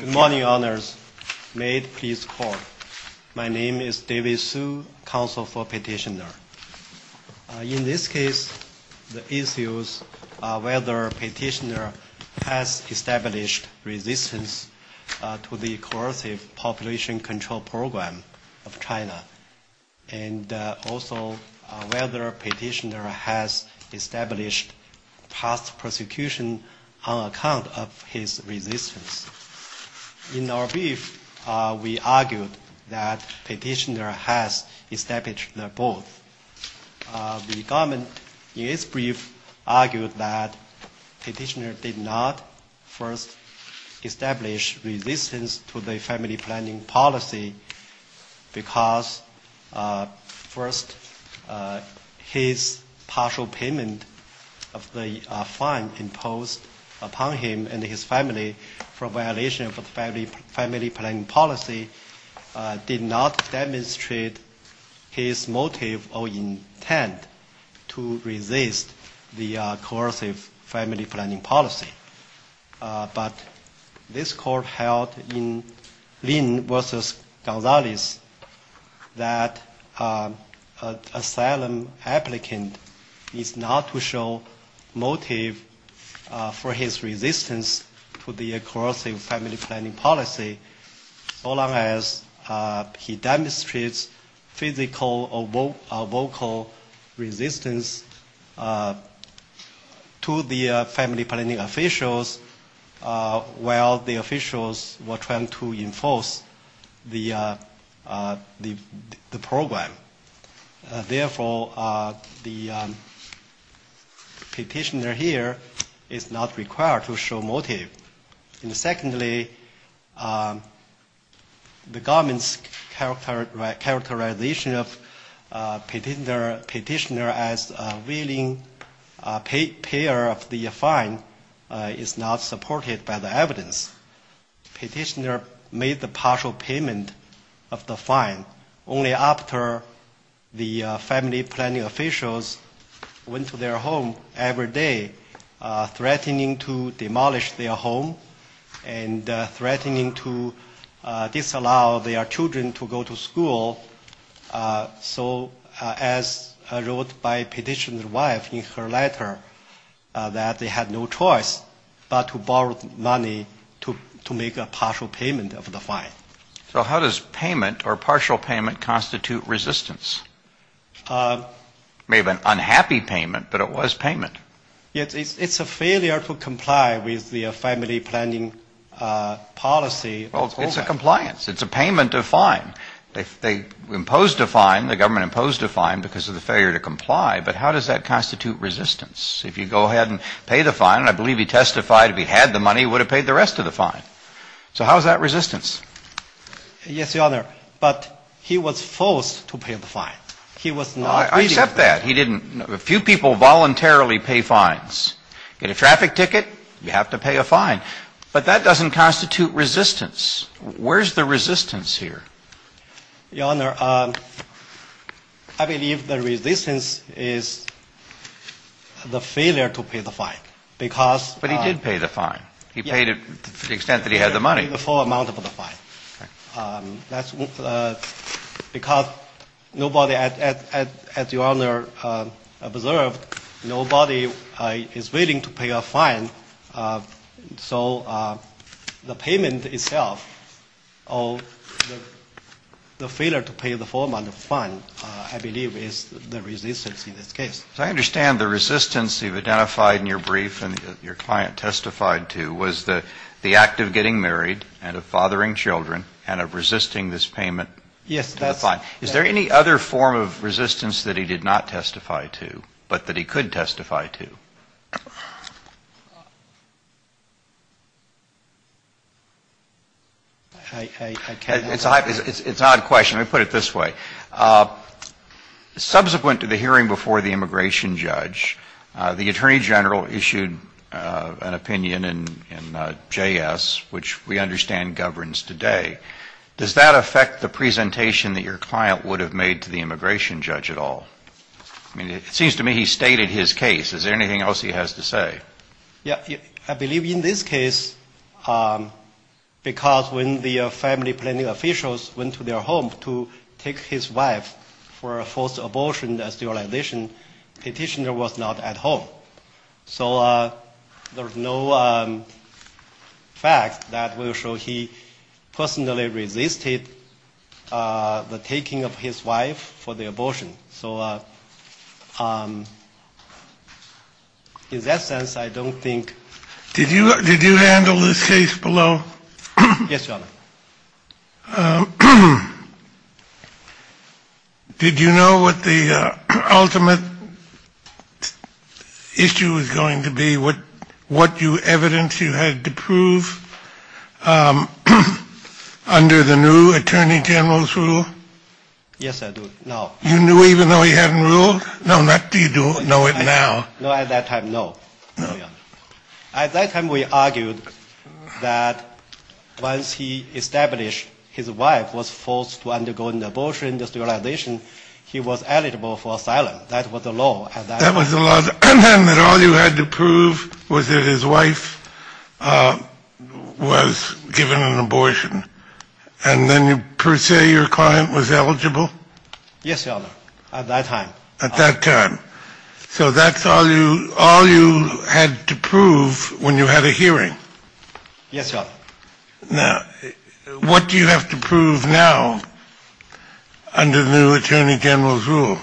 Good morning, honors. May it please call. My name is David Su, counsel for Petitioner. In this case, the issues are whether Petitioner has established resistance to the coercive population control program of China, and also whether Petitioner has established past prosecution on account of his resistance. In our brief, we argued that Petitioner has established them both. The government in its brief argued that Petitioner did not first establish resistance to the family planning policy because, first, his partial payment of the fine imposed upon him and his family for violation of the family planning policy did not demonstrate his motive or intent to resist the coercive family planning policy. But this court held in Lin v. Gonzalez that an asylum applicant is not to show motive for his resistance to the coercive family planning policy so long as he demonstrates physical or vocal resistance to the family planning officials while the officials were trying to enforce the program. Therefore, the petitioner here is not required to show motive. And secondly, the government's characterization of Petitioner as a willing payer of the fine is not supported by the evidence. Petitioner made the partial payment of the fine only after the family planning officials went to their home every day, threatening to demolish their home and threatening to disallow their children to go to school. So as wrote by Petitioner's wife in her letter, that they had no choice but to borrow money to make a partial payment of the fine. So how does payment or partial payment constitute resistance? It may have been unhappy payment, but it was payment. It's a failure to comply with the family planning policy. Well, it's a compliance. It's a payment of fine. They imposed a fine. The government imposed a fine because of the failure to comply. But how does that constitute resistance? If you go ahead and pay the fine, and I believe he testified if he had the money, he would have paid the rest of the fine. So how is that resistance? Yes, Your Honor. But he was forced to pay the fine. He was not willing. I accept that. A few people voluntarily pay fines. Get a traffic ticket, you have to pay a fine. But that doesn't constitute resistance. Where is the resistance here? Your Honor, I believe the resistance is the failure to pay the fine. But he did pay the fine. He paid it to the extent that he had the money. The full amount of the fine. That's because nobody, as Your Honor observed, nobody is willing to pay a fine. So the payment itself or the failure to pay the full amount of the fine, I believe, is the resistance in this case. I understand the resistance you've identified in your brief and your client testified to was the act of getting married and of fathering children and of resisting this payment. Yes. Is there any other form of resistance that he did not testify to but that he could testify to? I can't answer that. It's an odd question. Let me put it this way. Subsequent to the hearing before the immigration judge, the attorney general issued an opinion in JS, which we understand governs today. Does that affect the presentation that your client would have made to the immigration judge at all? I mean, it seems to me he stated his case. Is there anything else he has to say? I believe in this case because when the family planning officials went to their home to take his wife for a forced abortion sterilization, the petitioner was not at home. So there's no fact that will show he personally resisted the taking of his wife for the abortion. So in that sense, I don't think. Did you handle this case below? Yes, Your Honor. Did you know what the ultimate issue was going to be? What evidence you had to prove under the new attorney general's rule? Yes, I do. You knew even though he hadn't ruled? No, not that you know it now. No, at that time, no. At that time, we argued that once he established his wife was forced to undergo an abortion sterilization, he was eligible for asylum. That was the law. That was the law. And then per se your client was eligible? Yes, Your Honor, at that time. At that time. So that's all you had to prove when you had a hearing? Yes, Your Honor. Now, what do you have to prove now under the new attorney general's rule?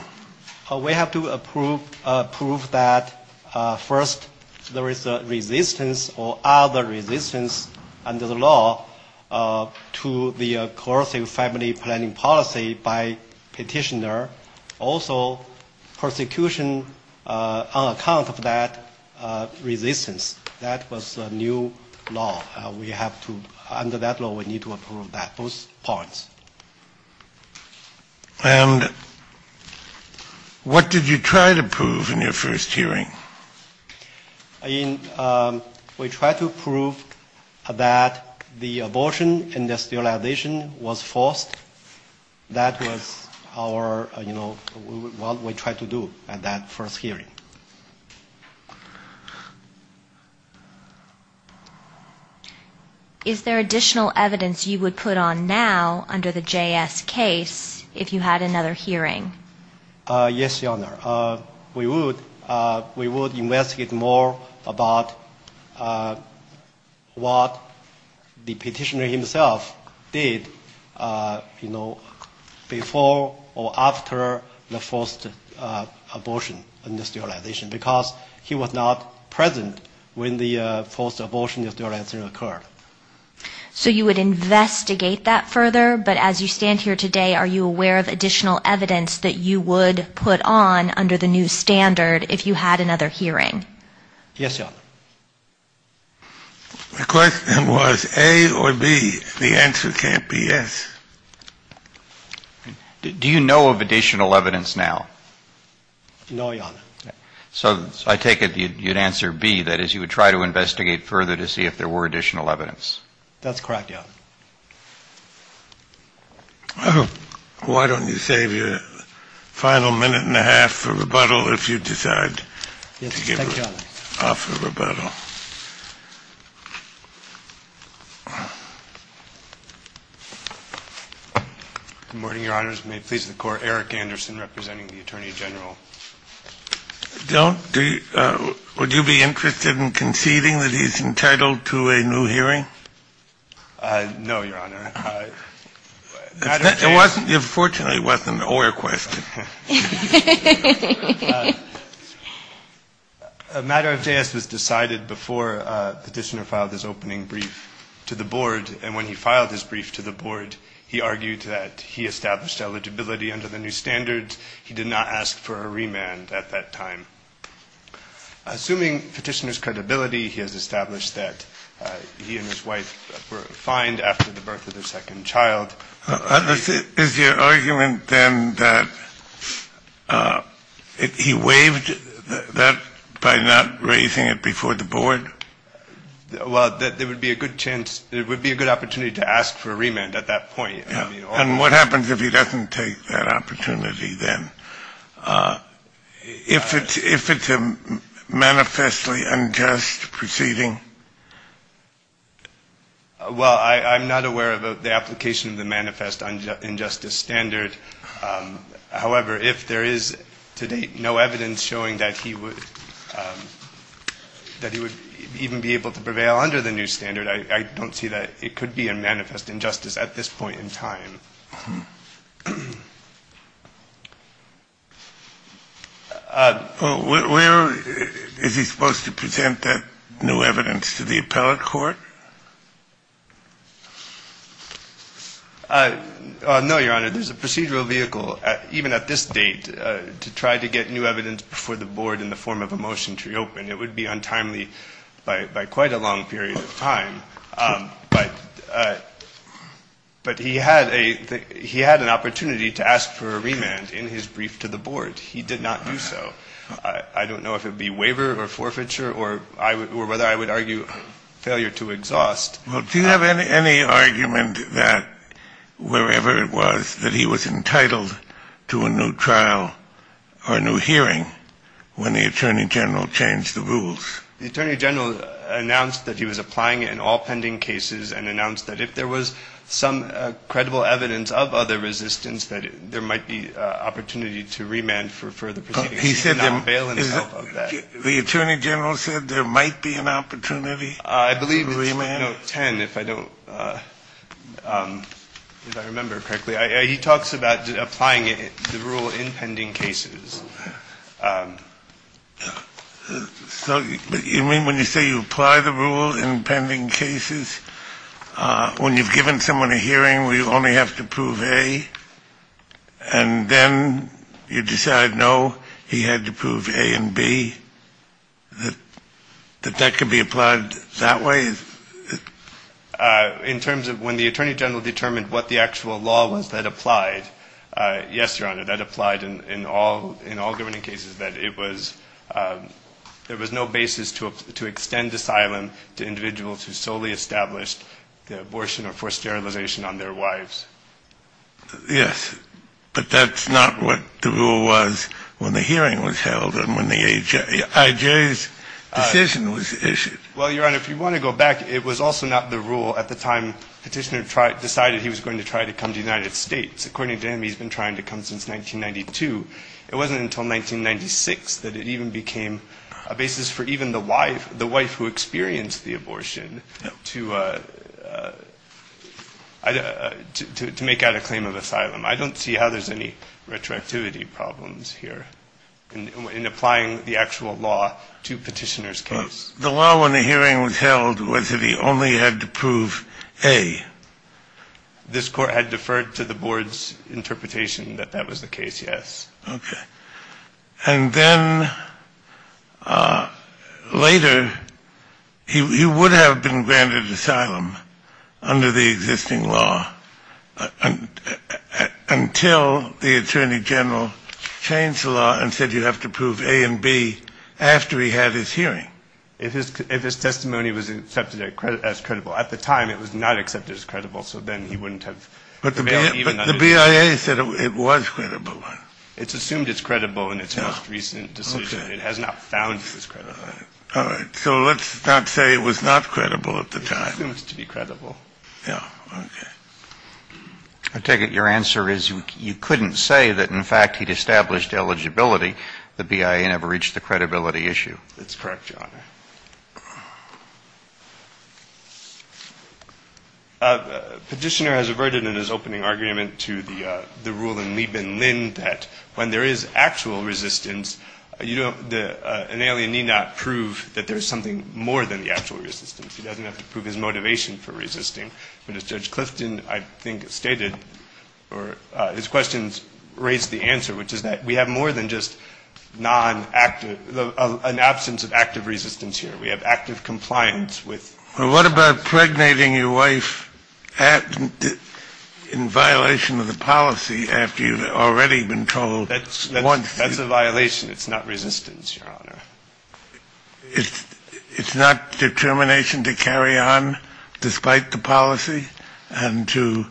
We have to prove that, first, there is a resistance or other resistance under the law to the coercive family planning policy by petitioner. Also, persecution on account of that resistance. That was the new law. We have to, under that law, we need to approve those points. And what did you try to prove in your first hearing? We tried to prove that the abortion and the sterilization was forced. That was our, you know, what we tried to do at that first hearing. Is there additional evidence you would put on now under the JS case if you had another hearing? Yes, Your Honor. We would investigate more about what the petitioner himself did, you know, before or after the forced abortion and sterilization. Because he was not present when the forced abortion and sterilization occurred. So you would investigate that further, but as you stand here today, are you aware of additional evidence that you would put on under the new standard if you had another hearing? Yes, Your Honor. The question was A or B. The answer can't be yes. Do you know of additional evidence now? No, Your Honor. So I take it you'd answer B, that is, you would try to investigate further to see if there were additional evidence. That's correct, Your Honor. Well, why don't you save your final minute and a half for rebuttal if you decide to give off a rebuttal. Good morning, Your Honors. May it please the Court, Eric Anderson representing the Attorney General. Don't do you – would you be interested in conceding that he's entitled to a new hearing? No, Your Honor. It wasn't – it fortunately wasn't an Oyer question. A matter of jazz was decided before Petitioner filed his opening brief to the Board, and when he filed his brief to the Board, he argued that he established eligibility under the new standards. He did not ask for a remand at that time. Assuming Petitioner's credibility, he has established that he and his wife were fined after the birth of their second child. Is your argument, then, that he waived that by not raising it before the Board? Well, there would be a good chance – there would be a good opportunity to ask for a remand at that point. And what happens if he doesn't take that opportunity, then? If it's a manifestly unjust proceeding? Well, I'm not aware of the application of the manifest injustice standard. However, if there is to date no evidence showing that he would – that he would even be able to prevail under the new standard, I don't see that it could be a manifest injustice at this point in time. Where is he supposed to present that new evidence to the appellate court? No, Your Honor. There's a procedural vehicle, even at this date, to try to get new evidence before the Board in the form of a motion to reopen. It would be untimely by quite a long period of time. But he had an opportunity to ask for a remand in his brief to the Board. He did not do so. I don't know if it would be waiver or forfeiture or whether I would argue failure to exhaust. Well, do you have any argument that wherever it was that he was entitled to a new trial or a new hearing when the Attorney General changed the rules? The Attorney General announced that he was applying in all pending cases and announced that if there was some credible evidence of other resistance, that there might be an opportunity to remand for further proceedings. He said there might be an opportunity to remand? I think it was 2010, if I remember correctly. He talks about applying the rule in pending cases. So you mean when you say you apply the rule in pending cases, when you've given someone a hearing where you only have to prove A, and then you decide, no, he had to prove A and B, that that could be applied that way? In terms of when the Attorney General determined what the actual law was that applied, yes, Your Honor, that applied in all governing cases, that it was, there was no basis to extend asylum to individuals who solely established the abortion or forced sterilization on their wives. Yes, but that's not what the rule was when the hearing was held and when the IJ's decision was issued. Well, Your Honor, if you want to go back, it was also not the rule at the time Petitioner decided he was going to try to come to the United States. According to him, he's been trying to come since 1992. It wasn't until 1996 that it even became a basis for even the wife, the wife who experienced the abortion to make out a claim of asylum. I don't see how there's any retroactivity problems here in applying the actual law to Petitioner's case. The law when the hearing was held was that he only had to prove A. This Court had deferred to the Board's interpretation that that was the case, yes. Okay. And then later, he would have been granted asylum under the existing law until the Attorney General changed the law and said you have to prove A and B after he had his hearing. If his testimony was accepted as credible. At the time, it was not accepted as credible, so then he wouldn't have failed even under the law. The BIA said it was credible. It's assumed it's credible in its most recent decision. It has not found it's credible. All right. So let's not say it was not credible at the time. It's assumed to be credible. Yeah. Okay. I take it your answer is you couldn't say that, in fact, he'd established eligibility. The BIA never reached the credibility issue. That's correct, Your Honor. Petitioner has averted in his opening argument to the rule in Liebman-Linn that when there is actual resistance, an alien need not prove that there's something more than the actual resistance. He doesn't have to prove his motivation for resisting. But as Judge Clifton, I think, stated, or his questions raised the answer, which is that we have more than just non-active, an absence of active resistance here. We have active compliance with. Well, what about impregnating your wife in violation of the policy after you've already been told once? That's a violation. It's not resistance, Your Honor. It's not determination to carry on despite the policy and to,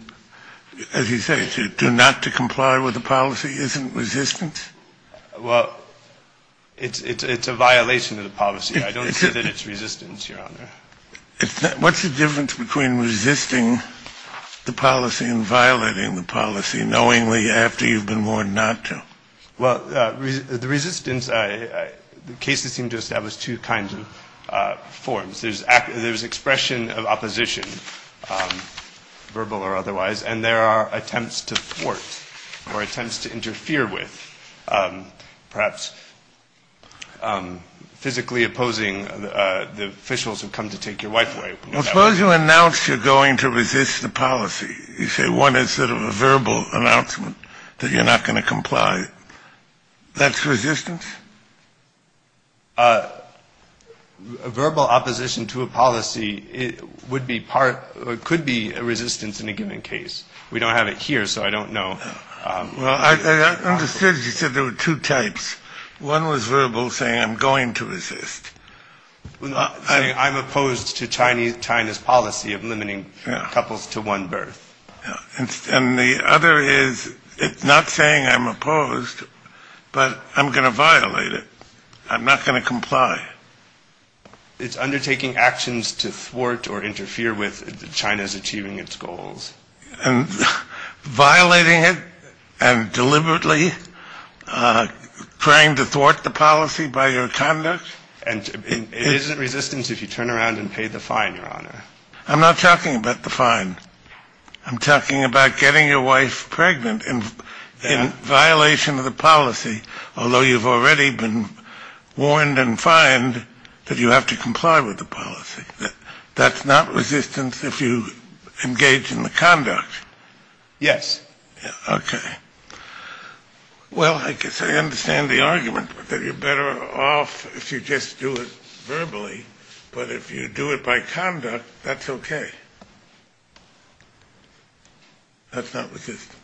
as you say, to not to comply with the policy isn't resistance? Well, it's a violation of the policy. I don't see that it's resistance, Your Honor. What's the difference between resisting the policy and violating the policy knowingly after you've been warned not to? Well, the resistance, the cases seem to establish two kinds of forms. There's expression of opposition, verbal or otherwise, and there are attempts to thwart or attempts to interfere with, perhaps physically opposing the officials who come to take your wife away. Suppose you announce you're going to resist the policy. That's resistance? Verbal opposition to a policy would be part, could be a resistance in a given case. We don't have it here, so I don't know. Well, I understood you said there were two types. One was verbal, saying I'm going to resist. Saying I'm opposed to China's policy of limiting couples to one birth. And the other is it's not saying I'm opposed, but I'm going to violate it. I'm not going to comply. It's undertaking actions to thwart or interfere with China's achieving its goals. And violating it and deliberately trying to thwart the policy by your conduct? It isn't resistance if you turn around and pay the fine, Your Honor. I'm not talking about the fine. I'm talking about getting your wife pregnant in violation of the policy. Although you've already been warned and fined that you have to comply with the policy. That's not resistance if you engage in the conduct. Yes. Okay. Well, I guess I understand the argument that you're better off if you just do it verbally. But if you do it by conduct, that's okay. That's not resistance.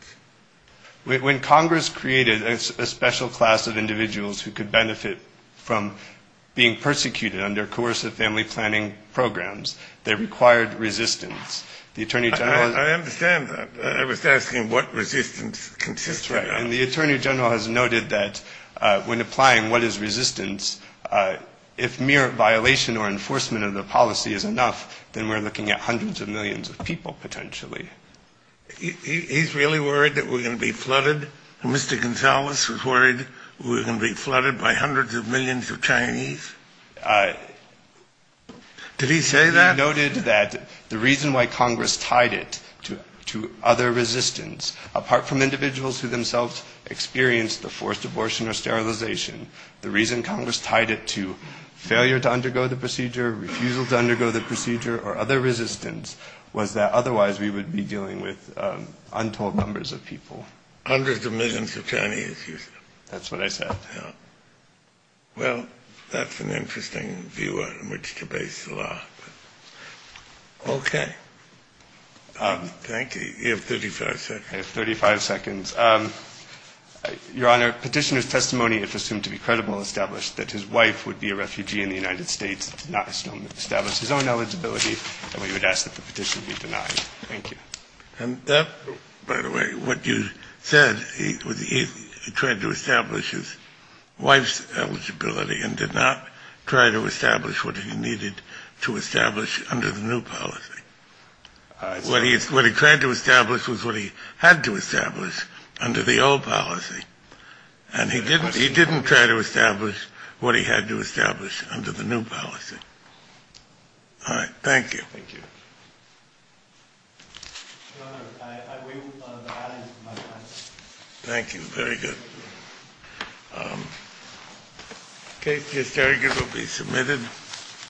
When Congress created a special class of individuals who could benefit from being persecuted under coercive family planning programs, they required resistance. I understand that. I was asking what resistance consisted of. And the Attorney General has noted that when applying what is resistance, if mere violation or enforcement of the policy is enough, then we're looking at hundreds of millions of people, potentially. He's really worried that we're going to be flooded? Mr. Gonzales is worried we're going to be flooded by hundreds of millions of Chinese? Did he say that? He noted that the reason why Congress tied it to other resistance, apart from individuals who themselves experienced the forced abortion or sterilization, the reason Congress tied it to failure to undergo the procedure, refusal to undergo the procedure, or other resistance, was that otherwise we would be flooded. Hundreds of millions of Chinese? That's what I said. Well, that's an interesting view on which to base the law. Okay. Thank you. You have 35 seconds. Your Honor, petitioner's testimony, if assumed to be credible, established that his wife would be a refugee in the United States, did not establish his own eligibility, and we would ask that the petition be denied. Thank you. And that, by the way, what you said, he tried to establish his wife's eligibility and did not try to establish what he needed to establish under the new policy. What he tried to establish was what he had to establish under the old policy, and he didn't try to establish what he had to establish under the new policy. All right. Thank you. Thank you. Thank you. Very good. Thank you.